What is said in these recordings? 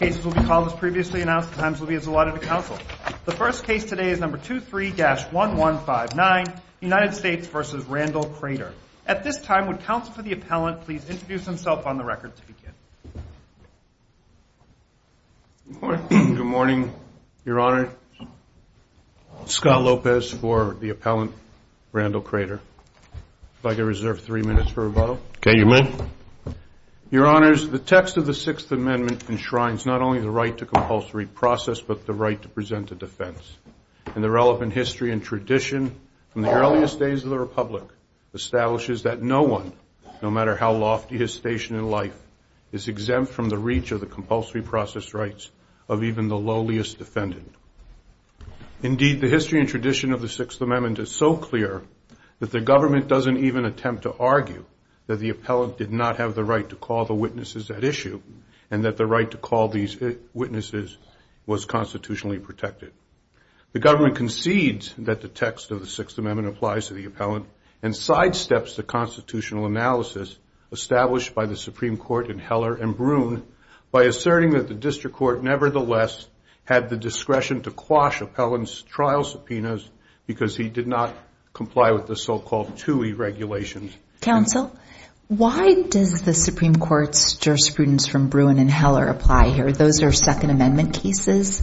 The first case today is number 23-1159, United States v. Randall Crater. At this time, would counsel for the appellant please introduce himself on the record to begin? Good morning, Your Honor. Scott Lopez for the appellant, Randall Crater. If I could reserve three minutes for rebuttal. Okay, you may. Your Honors, the text of the Sixth Amendment enshrines not only the right to compulsory process, but the right to present a defense. And the relevant history and tradition from the earliest days of the Republic establishes that no one, no matter how lofty his station in life, is exempt from the reach of the compulsory process rights of even the lowliest defendant. Indeed, the history and tradition of the Sixth Amendment is so clear that the government doesn't even attempt to argue that the appellant did not have the right to call the witnesses at issue, and that the right to call these witnesses was constitutionally protected. The government concedes that the text of the Sixth Amendment applies to the appellant and sidesteps the constitutional analysis established by the Supreme Court in Heller and Bruhn by asserting that the district court nevertheless had the discretion to quash appellant's subpoenas because he did not comply with the so-called TUI regulations. Counsel, why does the Supreme Court's jurisprudence from Bruhn and Heller apply here? Those are Second Amendment cases,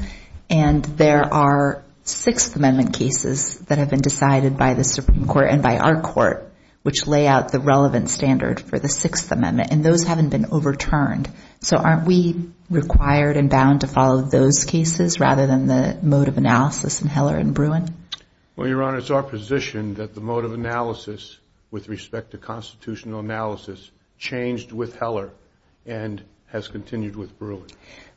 and there are Sixth Amendment cases that have been decided by the Supreme Court and by our court, which lay out the relevant standard for the Sixth Amendment, and those haven't been overturned. So aren't we required and bound to follow those cases rather than the mode of analysis in Heller and Bruhn? Well, Your Honor, it's our position that the mode of analysis with respect to constitutional analysis changed with Heller and has continued with Bruhn.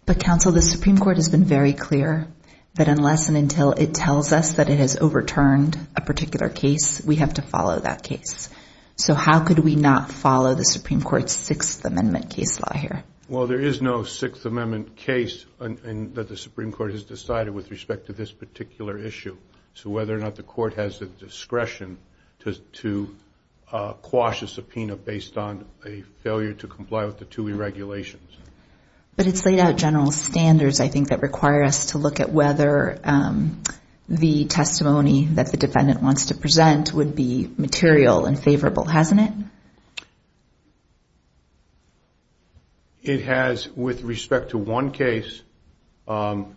But, Counsel, the Supreme Court has been very clear that unless and until it tells us that it has overturned a particular case, we have to follow that case. So how could we not follow the Supreme Court's Sixth Amendment case law here? Well, there is no Sixth Amendment case that the Supreme Court has decided with respect to this particular issue. So whether or not the court has the discretion to quash a subpoena based on a failure to comply with the TUI regulations. But it's laid out general standards, I think, that require us to look at whether the testimony that the defendant wants to present would be material and with respect to one case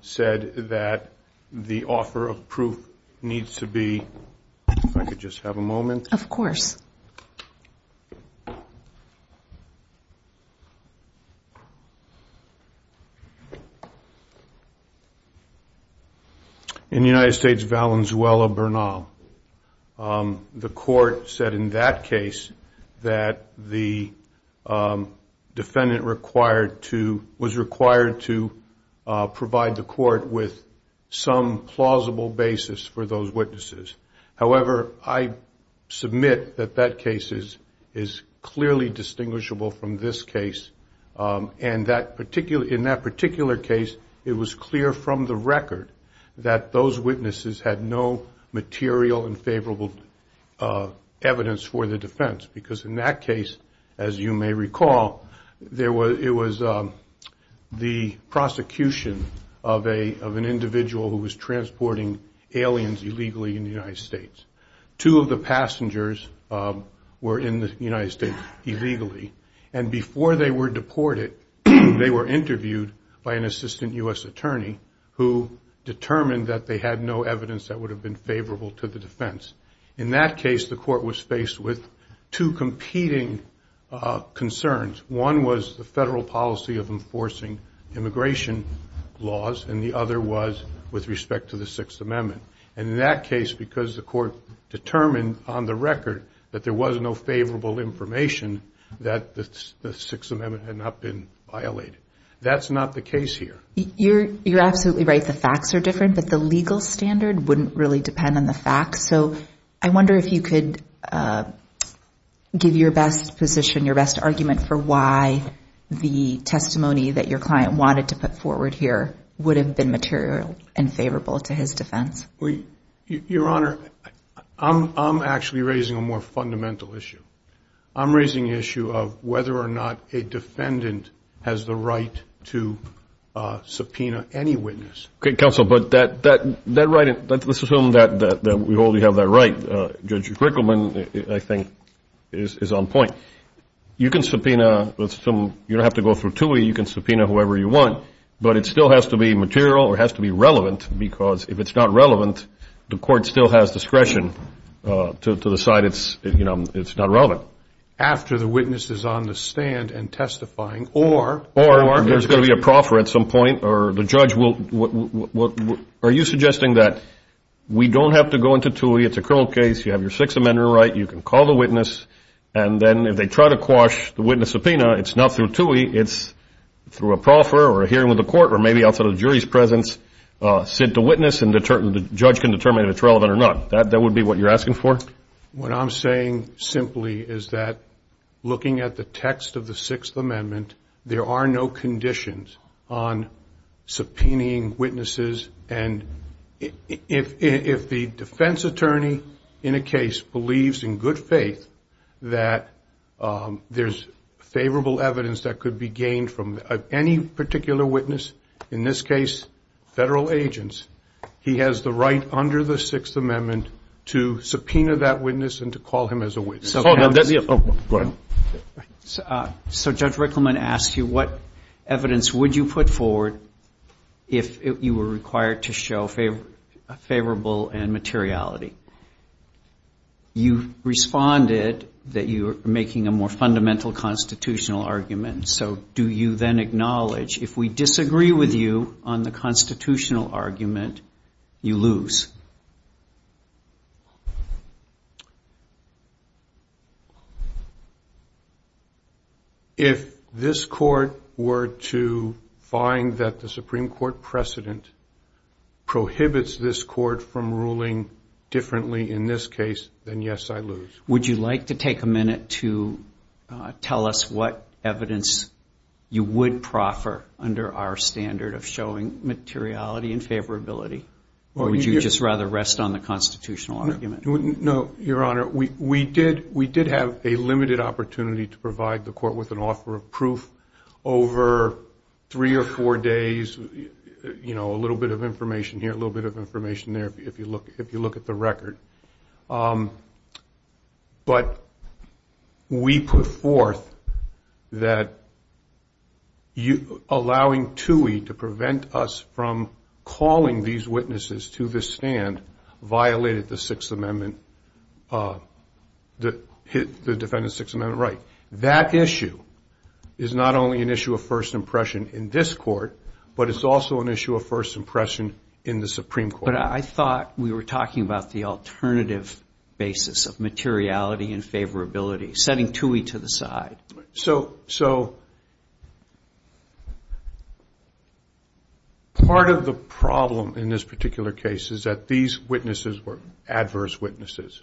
said that the offer of proof needs to be... If I could just have a moment. Of course. In the United States, Valenzuela, Bernal, the court said in that case that the defendant was required to provide the court with some plausible basis for those witnesses. However, I submit that that case is clearly distinguishable from this case. And in that particular case, it was clear from the record that those witnesses had no material and favorable evidence for the defense. Because in that case, as you may recall, it was the prosecution of an individual who was transporting aliens illegally in the United States. Two of the passengers were in the United States illegally. And before they were deported, they were interviewed by an assistant US attorney who determined that they had no evidence that would have been with two competing concerns. One was the federal policy of enforcing immigration laws, and the other was with respect to the Sixth Amendment. And in that case, because the court determined on the record that there was no favorable information, that the Sixth Amendment had not been violated. That's not the case here. You're absolutely right. The facts are different, but the legal standard wouldn't really depend on the facts. So I wonder if you could give your best position, your best argument for why the testimony that your client wanted to put forward here would have been material and favorable to his defense. Your Honor, I'm actually raising a more fundamental issue. I'm raising the issue of whether or not a defendant has the right to subpoena any witness. Okay, counsel, but that right, the subpoena that we hold, you have that right. Judge Rickleman, I think, is on point. You can subpoena, you don't have to go through TUI, you can subpoena whoever you want, but it still has to be material or has to be relevant, because if it's not relevant, the court still has discretion to decide it's not relevant. After the witness is on the stand and testifying, or... Or there's going to be a proffer at some point, or the judge will... Are you suggesting that we don't have to go into TUI, it's a criminal case, you have your Sixth Amendment right, you can call the witness, and then if they try to quash the witness subpoena, it's not through TUI, it's through a proffer or a hearing with the court, or maybe outside of the jury's presence, sit to witness and the judge can determine if it's relevant or not. That would be what you're asking for? What I'm saying simply is that looking at the text of the Sixth Amendment, there are no conditions on subpoenaing witnesses, and if the defense attorney in a case believes in good faith that there's favorable evidence that could be gained from any particular witness, in this case, federal agents, he has the right under the Sixth Amendment to subpoena that witness and to call him as a witness. Hold on, that's the... Oh, go ahead. So Judge Rickleman asked you what evidence would you put forward if you were required to show favorable and materiality? You responded that you're making a more fundamental constitutional argument, so do you then acknowledge if we disagree with you on the constitutional argument, you lose? If this court were to find that the Supreme Court precedent prohibits this court from ruling differently in this case, then yes, I lose. Would you like to take a minute to tell us what evidence you would proffer under our standard of showing materiality and favorability, or would you just rather rest on the constitutional argument? No, Your Honor, we did have a limited opportunity to provide the court with an offer of proof over three or four days, a little bit of information here, a little bit of information there, if you look at the record. But we put forth that allowing TUI to prevent us from calling these witnesses to this stand violated the Sixth Amendment, the defendant's Sixth Amendment right. That issue is not only an issue of first impression in this court, but it's also an issue of first impression in the Supreme Court. But I thought we were talking about the alternative basis of materiality and favorability, setting TUI to the side. So, part of the problem in this particular case is that these witnesses were adverse witnesses,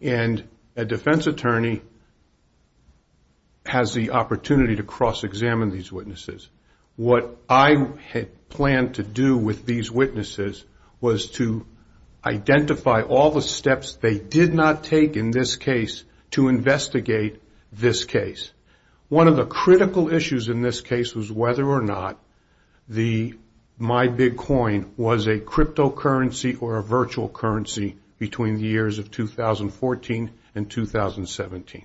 and a defense attorney has the opportunity to cross-examine these witnesses. What I had planned to do with these witnesses was to identify all the steps they did not take in this case to investigate this case. One of the critical issues in this case was whether or not the MyBitcoin was a cryptocurrency or a virtual currency between the years of 2014 and 2017.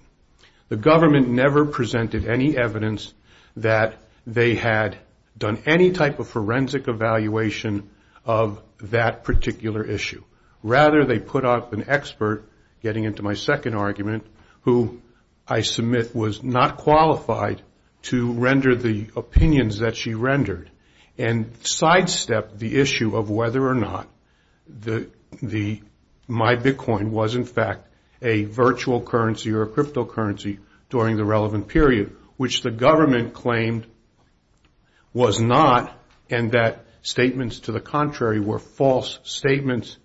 The government never presented any evidence that they had done any type of forensic evaluation of that particular issue. Rather, they put up an expert, getting into my second argument, who I submit was not qualified to render the opinions that she rendered, and sidestepped the issue of whether or not the MyBitcoin was, in fact, a virtual currency or a cryptocurrency during the relevant period, which the government claimed was not, and that statements to the contrary were false statements,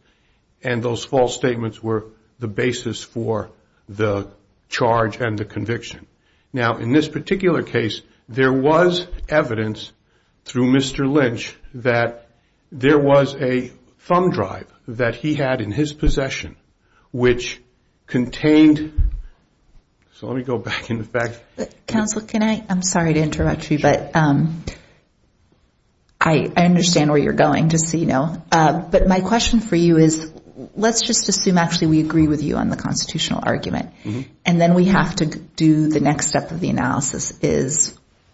and those false statements were the basis for the charge and the conviction. Now, in this particular case, there was evidence through Mr. Lynch that there was a thumb drive that he had in his possession, which contained... So, let me go back in the fact... Counsel, can I... I'm sorry to interrupt you, but I understand where you're going. Just so you know, but my question for you is, let's just assume, actually, we agree with you on the constitutional argument, and then we have to do the next step of the analysis,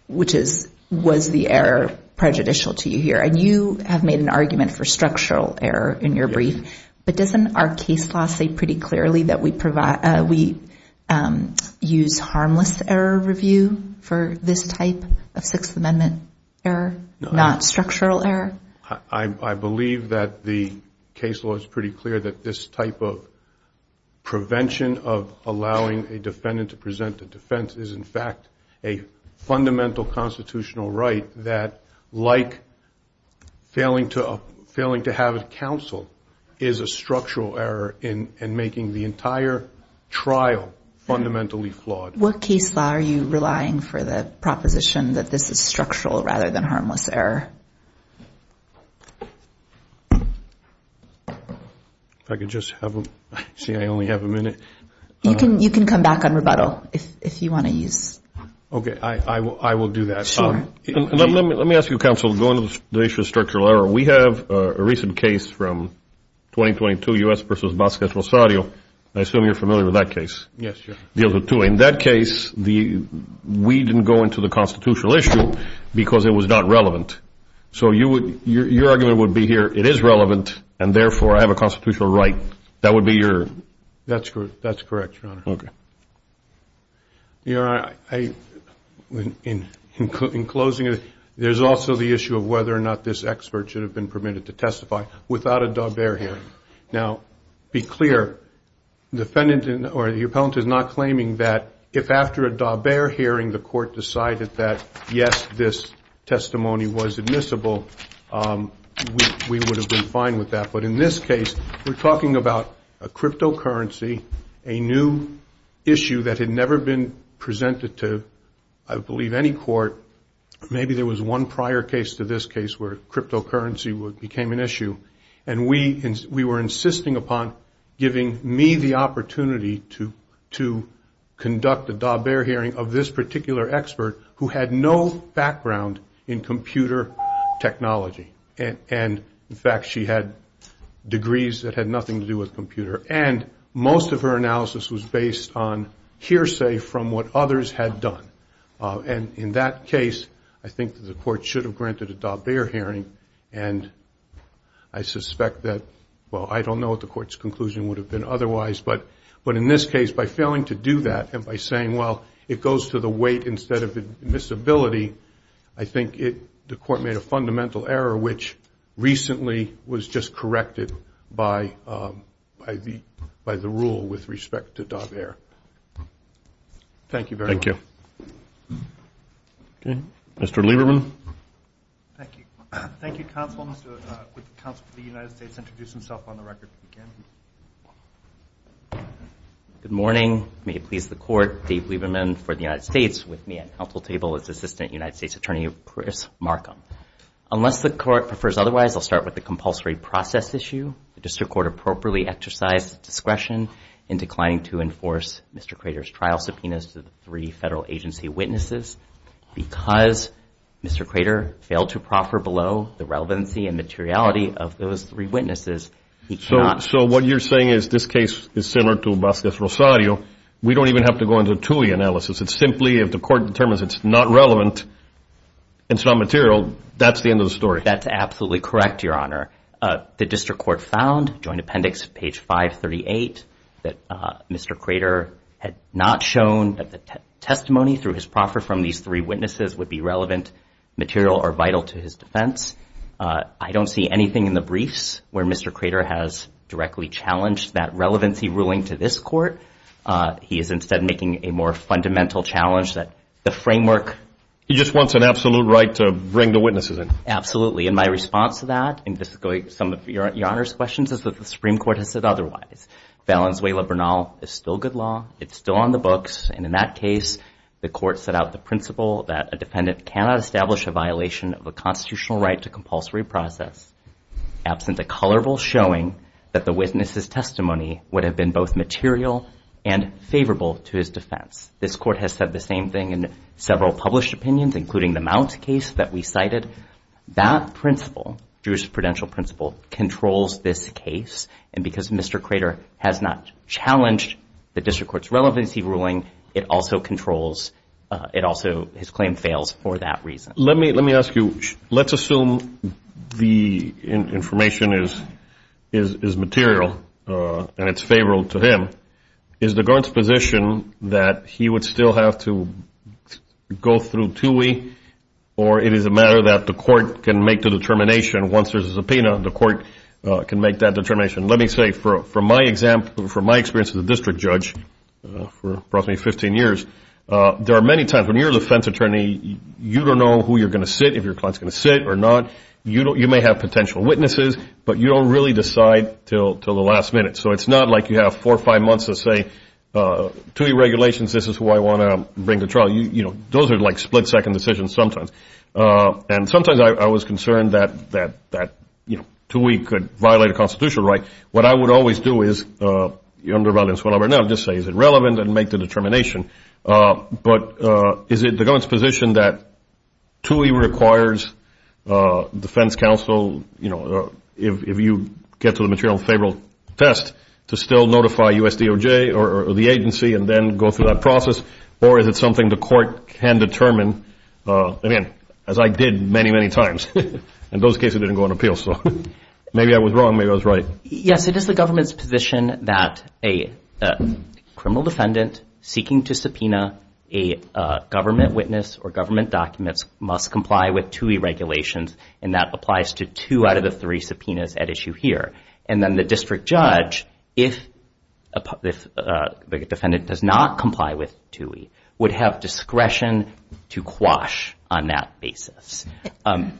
which is, was the error prejudicial to you here? And you have made an argument for structural error in your brief, but doesn't our case law say pretty clearly that we use harmless error review for this type of Sixth Amendment error, not structural error? I believe that the case law is pretty clear that this type of prevention of allowing a defendant to present a defense is, in fact, a fundamental constitutional right that, like failing to have counsel, is a structural error in making the entire trial fundamentally flawed. What case law are you relying for the proposition that this is structural rather than harmless error? If I could just have a... See, I only have a minute. You can come back on rebuttal if you want to use... Okay, I will do that. Sure. And let me ask you, counsel, going to the issue of structural error. We have a recent case from 2022, U.S. versus Vasquez Rosario. I assume you're familiar with that case. Yes, sir. In that case, we didn't go into the constitutional issue because it was not relevant. So your argument would be here, it is relevant, and therefore, I have a constitutional right. That would be your... That's correct, Your Honor. Okay. Your Honor, in closing, there's also the issue of whether or not this expert should have been permitted to testify without a daubert here. Now, be clear, the defendant or the appellant is not claiming that if after a daubert hearing, the court decided that, yes, this testimony was admissible, we would have been fine with that. But in this case, we're talking about a cryptocurrency, a new issue that had never been presented to, I believe, any court. Maybe there was one prior case to this case where cryptocurrency became an issue. And we were insisting upon giving me the opportunity to conduct a daubert hearing of this particular expert who had no background in computer technology. And in fact, she had degrees that had nothing to do with computer. And most of her analysis was based on hearsay from what others had done. And in that case, I think the court should have granted a daubert hearing. And I suspect that, well, I don't know what the court's conclusion would have been otherwise. But in this case, by failing to do that, and by saying, well, it goes to the weight instead of admissibility, I think the court made a fundamental error, which recently was just corrected by the rule with respect to daubert. Thank you very much. Thank you. Mr. Lieberman. Thank you. Thank you, counsel. Would the counsel for the United States introduce himself on the record, if he can? Good morning. May it please the court, Dave Lieberman for the United States, with me at counsel table is Assistant United States Attorney Chris Markham. Unless the court prefers otherwise, I'll start with the compulsory process issue. The district court appropriately exercised discretion in declining to enforce Mr. Crater's federal agency witnesses because Mr. Crater failed to proffer below the relevancy and materiality of those three witnesses. So what you're saying is this case is similar to Vasquez-Rosario. We don't even have to go into a TUI analysis. It's simply if the court determines it's not relevant, it's not material, that's the end of the story. That's absolutely correct, your honor. The district court found, joint appendix page 538, that Mr. Crater's testimony through his proffer from these three witnesses would be relevant, material, or vital to his defense. I don't see anything in the briefs where Mr. Crater has directly challenged that relevancy ruling to this court. He is instead making a more fundamental challenge that the framework. He just wants an absolute right to bring the witnesses in. Absolutely. And my response to that, and this is going to some of your honor's questions, is that the Supreme Court has said otherwise. Valenzuela-Bernal is still good law. It's still on the books. And in that case, the court set out the principle that a defendant cannot establish a violation of a constitutional right to compulsory process absent a colorful showing that the witness's testimony would have been both material and favorable to his defense. This court has said the same thing in several published opinions, including the Mount case that we cited. That principle, jurisprudential principle, controls this case. And because Mr. Crater has not challenged the district court's relevancy ruling, it also controls, it also, his claim fails for that reason. Let me ask you, let's assume the information is material and it's favorable to him. Is the guard's position that he would still have to go through TUI, or it is a matter that the court can make the determination once there's a subpoena, the court can make that determination? Let me say, from my experience as a district judge for approximately 15 years, there are many times when you're a defense attorney, you don't know who you're going to sit, if your client's going to sit or not. You may have potential witnesses, but you don't really decide till the last minute. So it's not like you have four or five months to say, TUI regulations, this is who I want to bring to trial. Those are like split-second decisions sometimes. And sometimes I was concerned that TUI could violate a constitutional right. What I would always do is, under violence, whatever, now just say is it relevant and make the determination. But is it the guard's position that TUI requires defense counsel, if you get to the material favorable test, to still notify USDOJ or the agency and then go through that process? Or is it something the court can determine? Again, as I did many, many times. In those cases, it didn't go on appeal. So maybe I was wrong, maybe I was right. Yes, it is the government's position that a criminal defendant seeking to subpoena a government witness or government documents must comply with TUI regulations. And that applies to two out of the three subpoenas at issue here. And then the district judge, if the defendant does not comply with TUI, would have discretion to quash on that basis.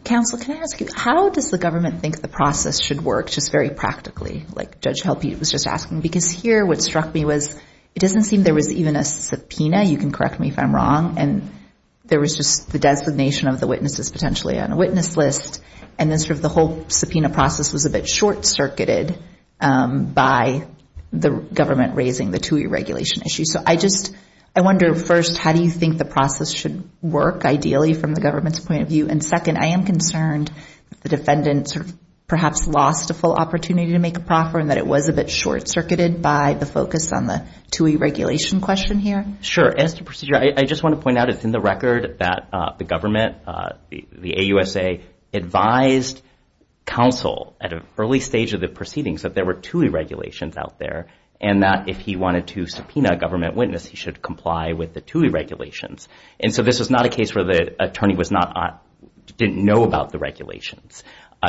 Counsel, can I ask you, how does the government think the process should work, just very practically, like Judge Helpe was just asking? Because here, what struck me was, it doesn't seem there was even a subpoena. You can correct me if I'm wrong. And there was just the designation of the witnesses potentially on a witness list. And then sort of the whole subpoena process was a bit short-circuited by the government raising the TUI regulation issue. So I just, I wonder, first, how do you think the process should work, ideally, from the government's point of view? And second, I am concerned that the defendant perhaps lost a full opportunity to make a proffer and that it was a bit short-circuited by the focus on the TUI regulation question here. Sure, as to procedure, I just want to point out, it's in the record that the government, the AUSA, advised counsel at an early stage of the proceedings that there were TUI regulations out there and that if he wanted to subpoena a government witness, he should comply with the TUI regulations. And so this is not a case where the attorney was not, didn't know about the regulations.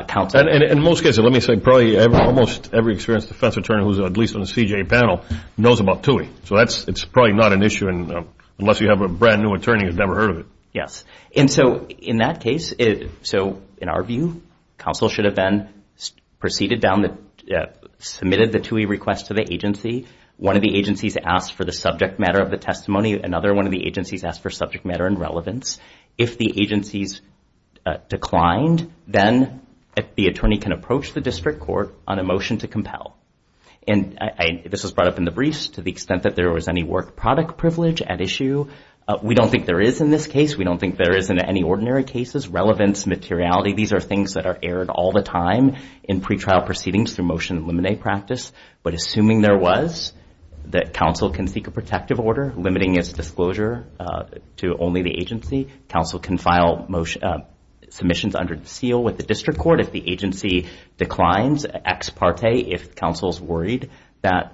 Counsel. And in most cases, let me say, probably almost every experienced defense attorney, who's at least on the CJA panel, knows about TUI. So that's, it's probably not an issue unless you have a brand-new attorney who's never heard of it. Yes. And so in that case, so in our view, counsel should have been, proceeded down the, submitted the TUI request to the agency. One of the agencies asked for the subject matter of the testimony. Another one of the agencies asked for subject matter and relevance. If the agencies declined, then the attorney can approach the district court on a motion to compel. And I, this was brought up in the briefs, to the extent that there was any work product privilege at issue. We don't think there is in this case. We don't think there is in any ordinary cases. Relevance, materiality. These are things that are aired all the time in pretrial proceedings through motion and limine practice. But assuming there was, that counsel can seek a protective order, limiting its disclosure to only the agency. Counsel can file motion, submissions under the seal with the district court. If the agency declines, ex parte. If counsel's worried that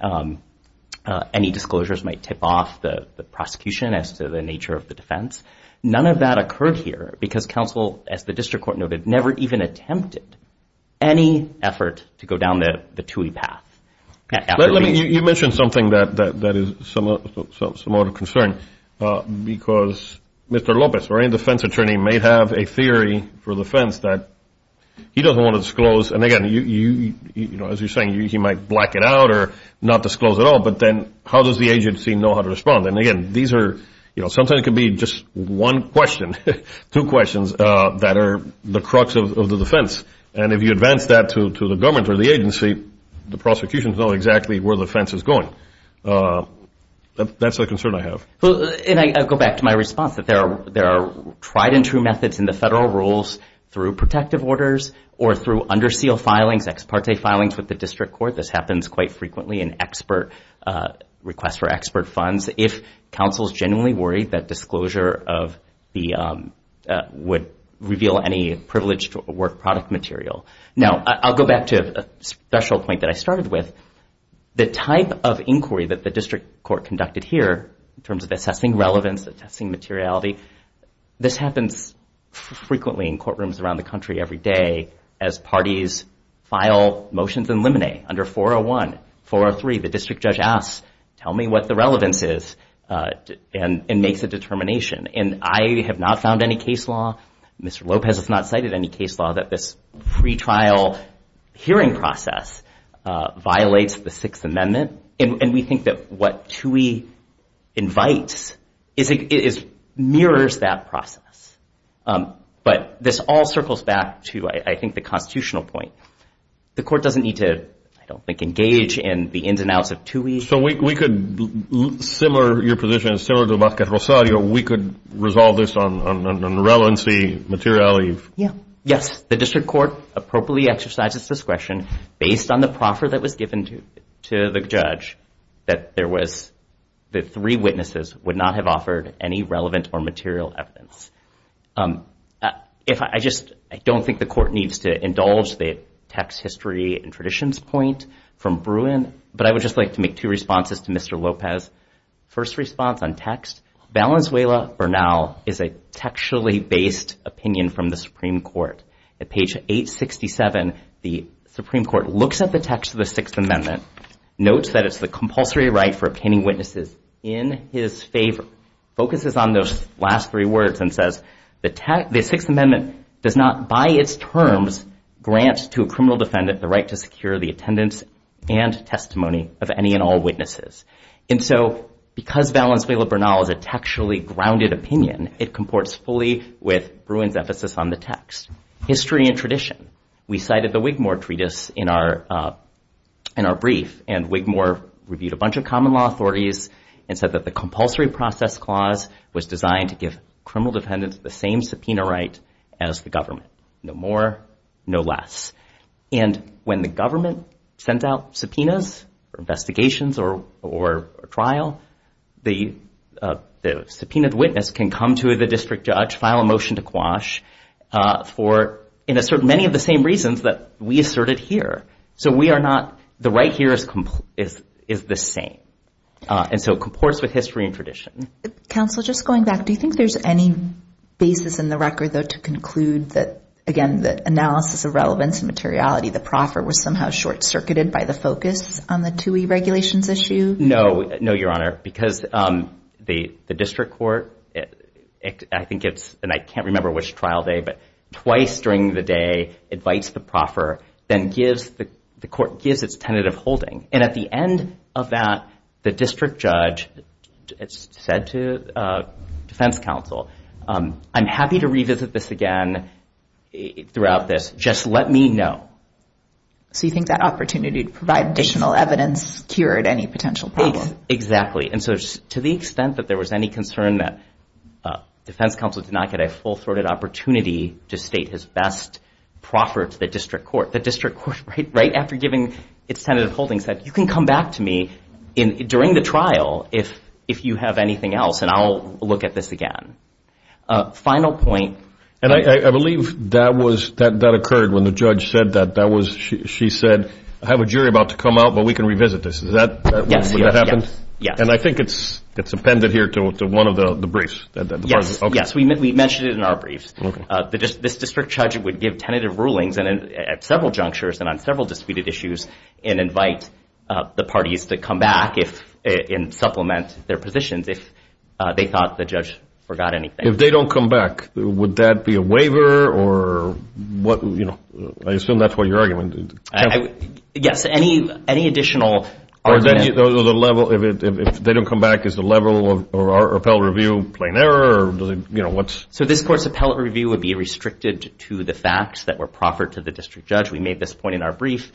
any disclosures might tip off the prosecution as to the nature of the defense. None of that occurred here. Because counsel, as the district court noted, never even attempted any effort to go down the TUI path. You mentioned something that is somewhat of a concern. Because Mr. Lopez, or any defense attorney, may have a theory for the defense that he doesn't want to disclose. And again, as you're saying, he might black it out or not disclose at all. But then how does the agency know how to respond? And again, these are, sometimes it can be just one question. Two questions that are the crux of the defense. And if you advance that to the government or the agency, the prosecution will know exactly where the fence is going. That's a concern I have. And I go back to my response that there are tried and true methods in the federal rules through protective orders or through under seal filings, ex parte filings with the district court. This happens quite frequently in request for expert funds. If counsel is genuinely worried that disclosure would reveal any privileged work product material. Now, I'll go back to a special point that I started with. The type of inquiry that the district court conducted here, in terms of assessing relevance, assessing materiality, this happens frequently in courtrooms around the country every day as parties file motions and limine. Under 401, 403, the district judge asks, tell me what the relevance is and makes a determination. And I have not found any case law, Mr. Lopez has not cited any case law that this pretrial hearing process violates the Sixth Amendment. And we think that what TUI invites mirrors that process. But this all circles back to, I think, the constitutional point. The court doesn't need to, I don't think, engage in the ins and outs of TUI. So we could, similar to your position, similar to Marquette Rosario, we could resolve this on relevancy, materiality. Yes, the district court appropriately exercises discretion based on the proffer that was given to the judge, that there was, that three witnesses would not have offered any relevant or material evidence. If I just, I don't think the court needs to indulge the text history and traditions point from Bruin, but I would just like to make two responses to Mr. Lopez. First response on text, Valenzuela-Bernal is a textually based opinion from the Supreme Court. At page 867, the Supreme Court looks at the text of the Sixth Amendment, notes that it's the compulsory right for obtaining witnesses in his favor, focuses on those last three words and says, the Sixth Amendment does not, by its terms, grant to a criminal defendant the right to secure the attendance and testimony of any and all witnesses. And so because Valenzuela-Bernal is a textually grounded opinion, it comports fully with Bruin's emphasis on the text. History and tradition. We cited the Wigmore Treatise in our brief, and Wigmore reviewed a bunch of common law authorities and said that the compulsory process clause was designed to give criminal defendants the same subpoena right as the government. No more, no less. And when the government sends out subpoenas for investigations or trial, the subpoenaed witness can come to the district judge, file a motion to quash for many of the same reasons that we asserted here. So we are not, the right here is the same. And so it comports with history and tradition. Counsel, just going back, do you think there's any basis in the record, though, to conclude that, again, the analysis of relevance and materiality, the proffer was somehow short-circuited by the focus on the TUI regulations issue? No, no, Your Honor. Because the district court, I think it's, and I can't remember which trial day, but twice during the day, invites the proffer, then the court gives its tentative holding. And at the end of that, the district judge said to defense counsel, I'm happy to revisit this again throughout this. Just let me know. So you think that opportunity to provide additional evidence cured any potential problem? Exactly. And so to the extent that there was any concern that defense counsel did not get a full-throated opportunity to state his best proffer to the district court, the district court, right after giving its tentative holding, said, you can come back to me during the trial if you have anything else, and I'll look at this again. Final point. And I believe that occurred when the judge said that. She said, I have a jury about to come out, but we can revisit this. Is that what happened? Yes. And I think it's appended here to one of the briefs. Yes, we mentioned it in our briefs. This district judge would give tentative rulings at several junctures and on several disputed issues and invite the parties to come back and supplement their positions if they thought the judge forgot anything. If they don't come back, would that be a waiver? Or what, you know, I assume that's what your argument is. Yes. Any additional argument? If they don't come back, is the level of our appellate review plain error? So this court's appellate review would be restricted to the facts that were proffered to the district judge. We made this point in our brief.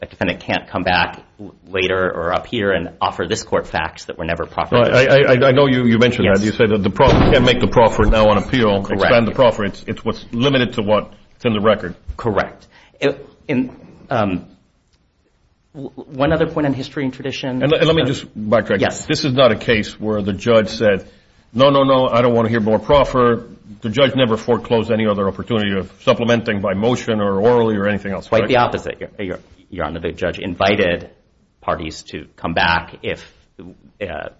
A defendant can't come back later or up here and offer this court facts that were never proffered to the district judge. I know you mentioned that. You said that you can't make the proffering now on appeal, expand the proffering. It's what's limited to what's in the record. Correct. And one other point on history and tradition. And let me just backtrack. This is not a case where the judge said, no, no, no, I don't want to hear more proffer. The judge never foreclosed any other opportunity of supplementing by motion or orally or anything else. Quite the opposite. Your honor, the judge invited parties to come back if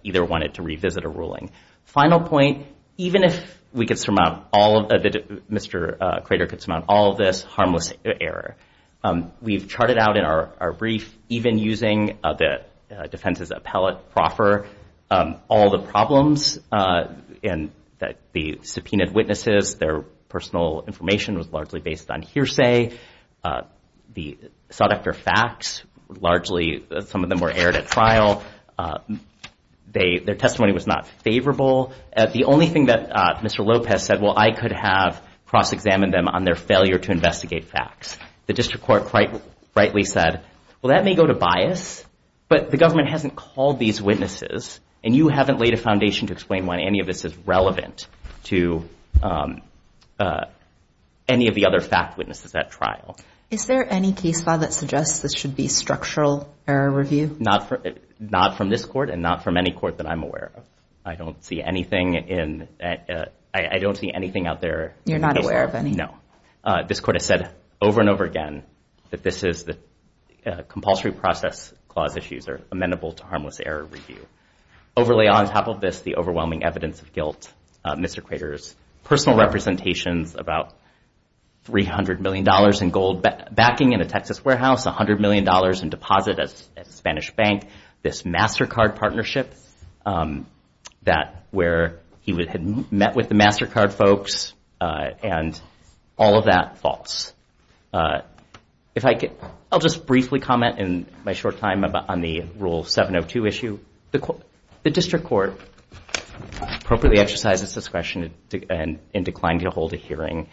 either wanted to revisit a ruling. Final point, even if we could surmount all of the, Mr. Crater could surmount all of this harmless error. We've charted out in our brief, even using the defense's appellate proffer, all the problems that the subpoenaed witnesses, their personal information was largely based on hearsay. The sought after facts, largely some of them were aired at trial. Their testimony was not favorable. The only thing that Mr. Lopez said, well, I could have cross-examined them on their failure to investigate facts. The district court quite rightly said, well, that may go to bias, but the government hasn't called these witnesses and you haven't laid a foundation to explain why any of this is relevant to any of the other fact witnesses at trial. Is there any case file that suggests this should be structural error review? Not from this court and not from any court that I'm aware of. I don't see anything in, I don't see anything out there. You're not aware of any? No. This court has said over and over again that this is the compulsory process clause issues are amenable to harmless error review. Overlay on top of this, the overwhelming evidence of guilt. Mr. Crater's personal representations about $300 million in gold backing in a Texas warehouse, $100 million in deposit at a Spanish bank, this MasterCard partnership, that where he had met with the MasterCard folks, and all of that, false. If I could, I'll just briefly comment in my short time on the Rule 702 issue. The district court appropriately exercised its discretion and declined to hold a hearing.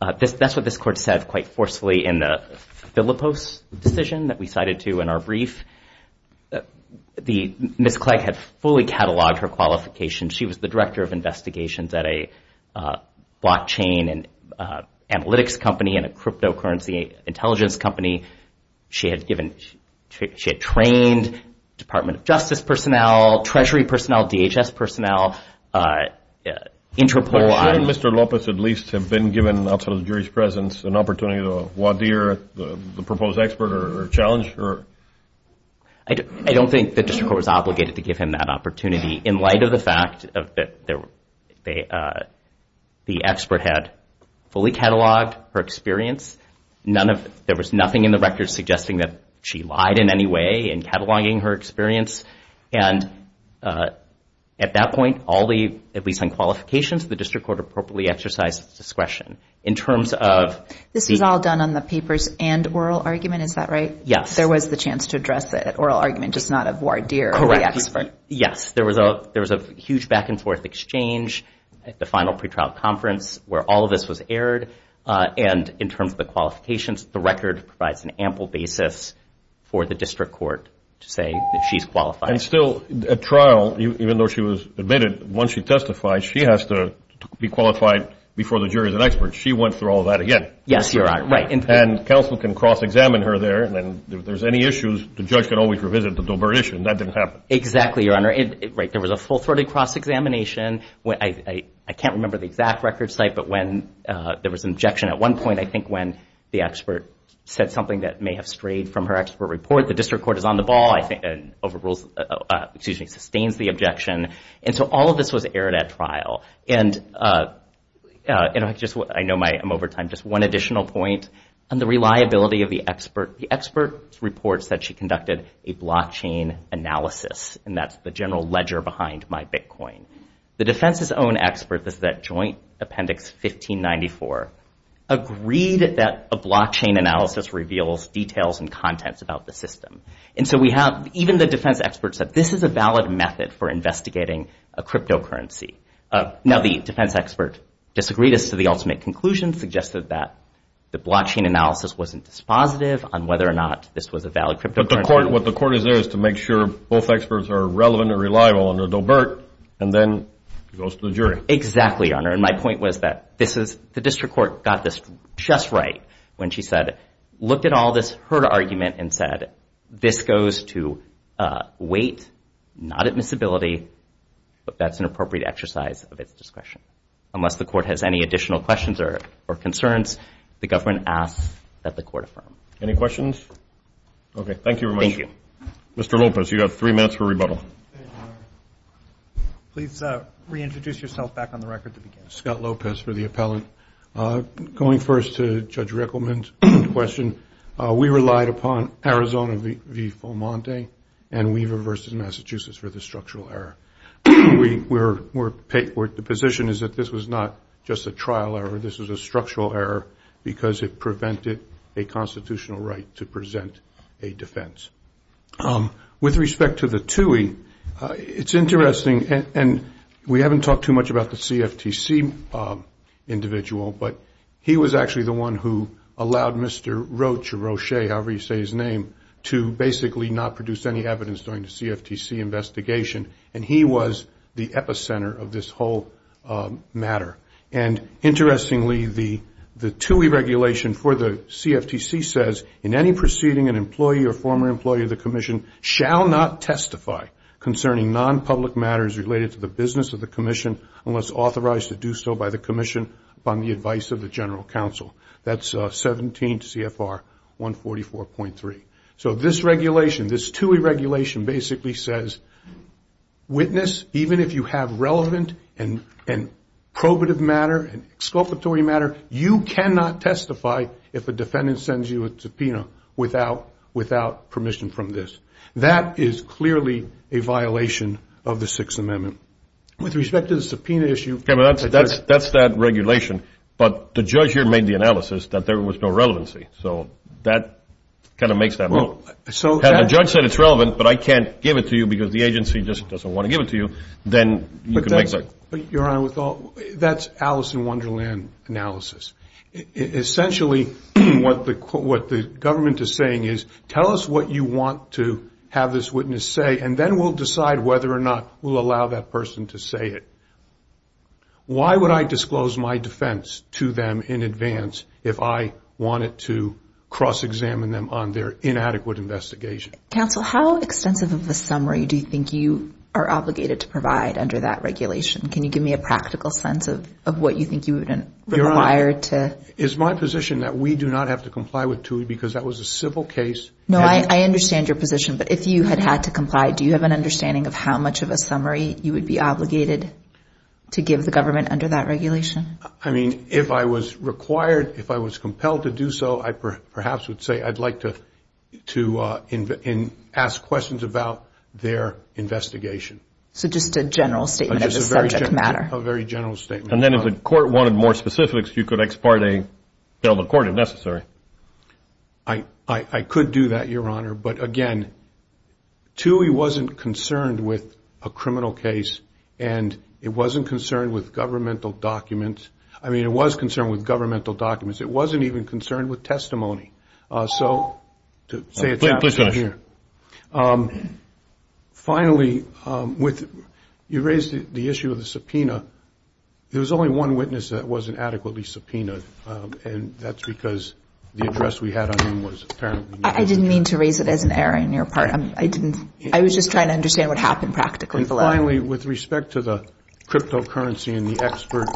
That's what this court said quite forcefully in the Filippos decision that we cited to in our brief. Ms. Clegg had fully cataloged her qualifications. She was the director of investigations at a blockchain and analytics company and a cryptocurrency intelligence company. She had given, she had trained Department of Justice personnel, Treasury personnel, DHS personnel, Interpol. Shouldn't Mr. Lopez, at least, have been given, outside of the jury's presence, an opportunity to wadir the proposed expert or challenge her? I don't think the district court was obligated to give him that opportunity. In light of the fact that the expert had fully cataloged her experience, there was nothing in the record suggesting that she lied in any way in cataloging her experience. And at that point, all the, at least on qualifications, the district court appropriately exercised its discretion. In terms of- This was all done on the papers and oral argument, is that right? Yes. There was the chance to address it at oral argument, just not of wadir the expert. Yes. There was a huge back and forth exchange at the final pretrial conference where all of this was aired. And in terms of the qualifications, the record provides an ample basis for the district court to say that she's qualified. And still, at trial, even though she was admitted, once she testified, she has to be qualified before the jury as an expert. She went through all that again. Yes, Your Honor. Right. And counsel can cross-examine her there, and if there's any issues, the judge can always revisit the Dober issue, and that didn't happen. Exactly, Your Honor. Right. There was a full-throated cross-examination. I can't remember the exact record site, but there was an objection at one point, I think, when the expert said something that may have strayed from her expert report. The district court is on the ball, I think, and sustains the objection. And so all of this was aired at trial. And I know I'm over time. Just one additional point on the reliability of the expert. The expert reports that she conducted a blockchain analysis, and that's the general ledger behind MyBitcoin. The defense's own expert is that Joint Appendix 1594 agreed that a blockchain analysis reveals details and contents about the system. And so we have, even the defense expert said, this is a valid method for investigating a cryptocurrency. Now, the defense expert disagreed as to the ultimate conclusion, suggested that the blockchain analysis wasn't dispositive on whether or not this was a valid cryptocurrency. What the court is there is to make sure both experts are relevant and reliable under Dobert, and then it goes to the jury. Exactly, Your Honor. And my point was that the district court got this just right when she said, looked at all this, heard argument and said, this goes to weight, not admissibility, but that's an appropriate exercise of its discretion. Unless the court has any additional questions or concerns, the government asks that the court affirm. Any questions? Okay, thank you very much. Thank you. Mr. Lopez, you have three minutes for rebuttal. Please reintroduce yourself back on the record to begin. Scott Lopez for the appellant. Going first to Judge Rickleman's question, we relied upon Arizona v. Fomonte and Weaver v. Massachusetts for the structural error. The position is that this was not just a trial error, this was a structural error because it prevented a constitutional right to present a defense. With respect to the TUI, it's interesting, and we haven't talked too much about the CFTC individual, but he was actually the one who allowed Mr. Roche, however you say his name, to basically not produce any evidence during the CFTC investigation, and he was the epicenter of this whole matter. And interestingly, the TUI regulation for the CFTC says, in any proceeding, an employee or former employee of the commission shall not testify concerning non-public matters related to the business of the commission unless authorized to do so by the commission upon the advice of the general counsel. That's 17 CFR 144.3. So this regulation, this TUI regulation basically says, witness, even if you have relevant and probative matter and exculpatory matter, you cannot testify if a defendant sends you a subpoena without permission from this. That is clearly a violation of the Sixth Amendment. With respect to the subpoena issue... Okay, but that's that regulation, but the judge here made the analysis that there was no relevancy, so that kind of makes that wrong. Had the judge said it's relevant, but I can't give it to you because the agency just doesn't want to give it to you, then you could make that... Your Honor, that's Alice in Wonderland analysis. Essentially, what the government is saying is, tell us what you want to have this witness say, and then we'll decide whether or not we'll allow that person to say it. Why would I disclose my defense to them in advance if I wanted to cross-examine them on their inadequate investigation? Counsel, how extensive of a summary do you think you are obligated to provide under that regulation? Can you give me a practical sense of what you think you would require to... Your Honor, it's my position that we do not have to comply with TUI because that was a civil case. No, I understand your position, but if you had had to comply, do you have an understanding of how much of a summary you would be obligated to give the government under that regulation? I mean, if I was required, if I was compelled to do so, I perhaps would say I'd like to ask questions about their investigation. So just a general statement of the subject matter. A very general statement. And then if the court wanted more specifics, you could ex parte, fill the court if necessary. I could do that, Your Honor, but again, TUI wasn't concerned with a criminal case, and it wasn't concerned with governmental documents. I mean, it was concerned with governmental documents. It wasn't even concerned with testimony. So, to say it's... Please finish. Thank you, Your Honor. Finally, you raised the issue of the subpoena. There was only one witness that wasn't adequately subpoenaed, and that's because the address we had on him was apparently... I didn't mean to raise it as an error on your part. I didn't... I was just trying to understand what happened practically. Finally, with respect to the cryptocurrency and the expert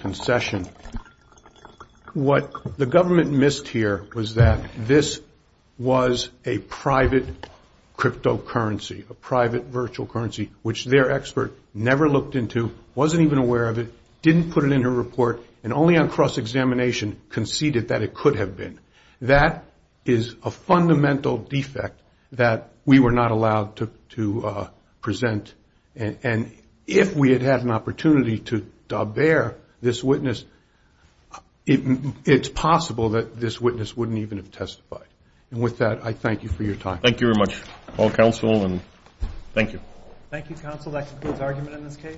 concession, what the government missed here was that this was a private cryptocurrency, a private virtual currency, which their expert never looked into, wasn't even aware of it, didn't put it in her report, and only on cross-examination conceded that it could have been. That is a fundamental defect that we were not allowed to present. And if we had had an opportunity to bear this witness, it's possible that this witness wouldn't even have testified. And with that, I thank you for your time. Thank you very much, all counsel, and thank you. Thank you, counsel. That concludes argument in this case.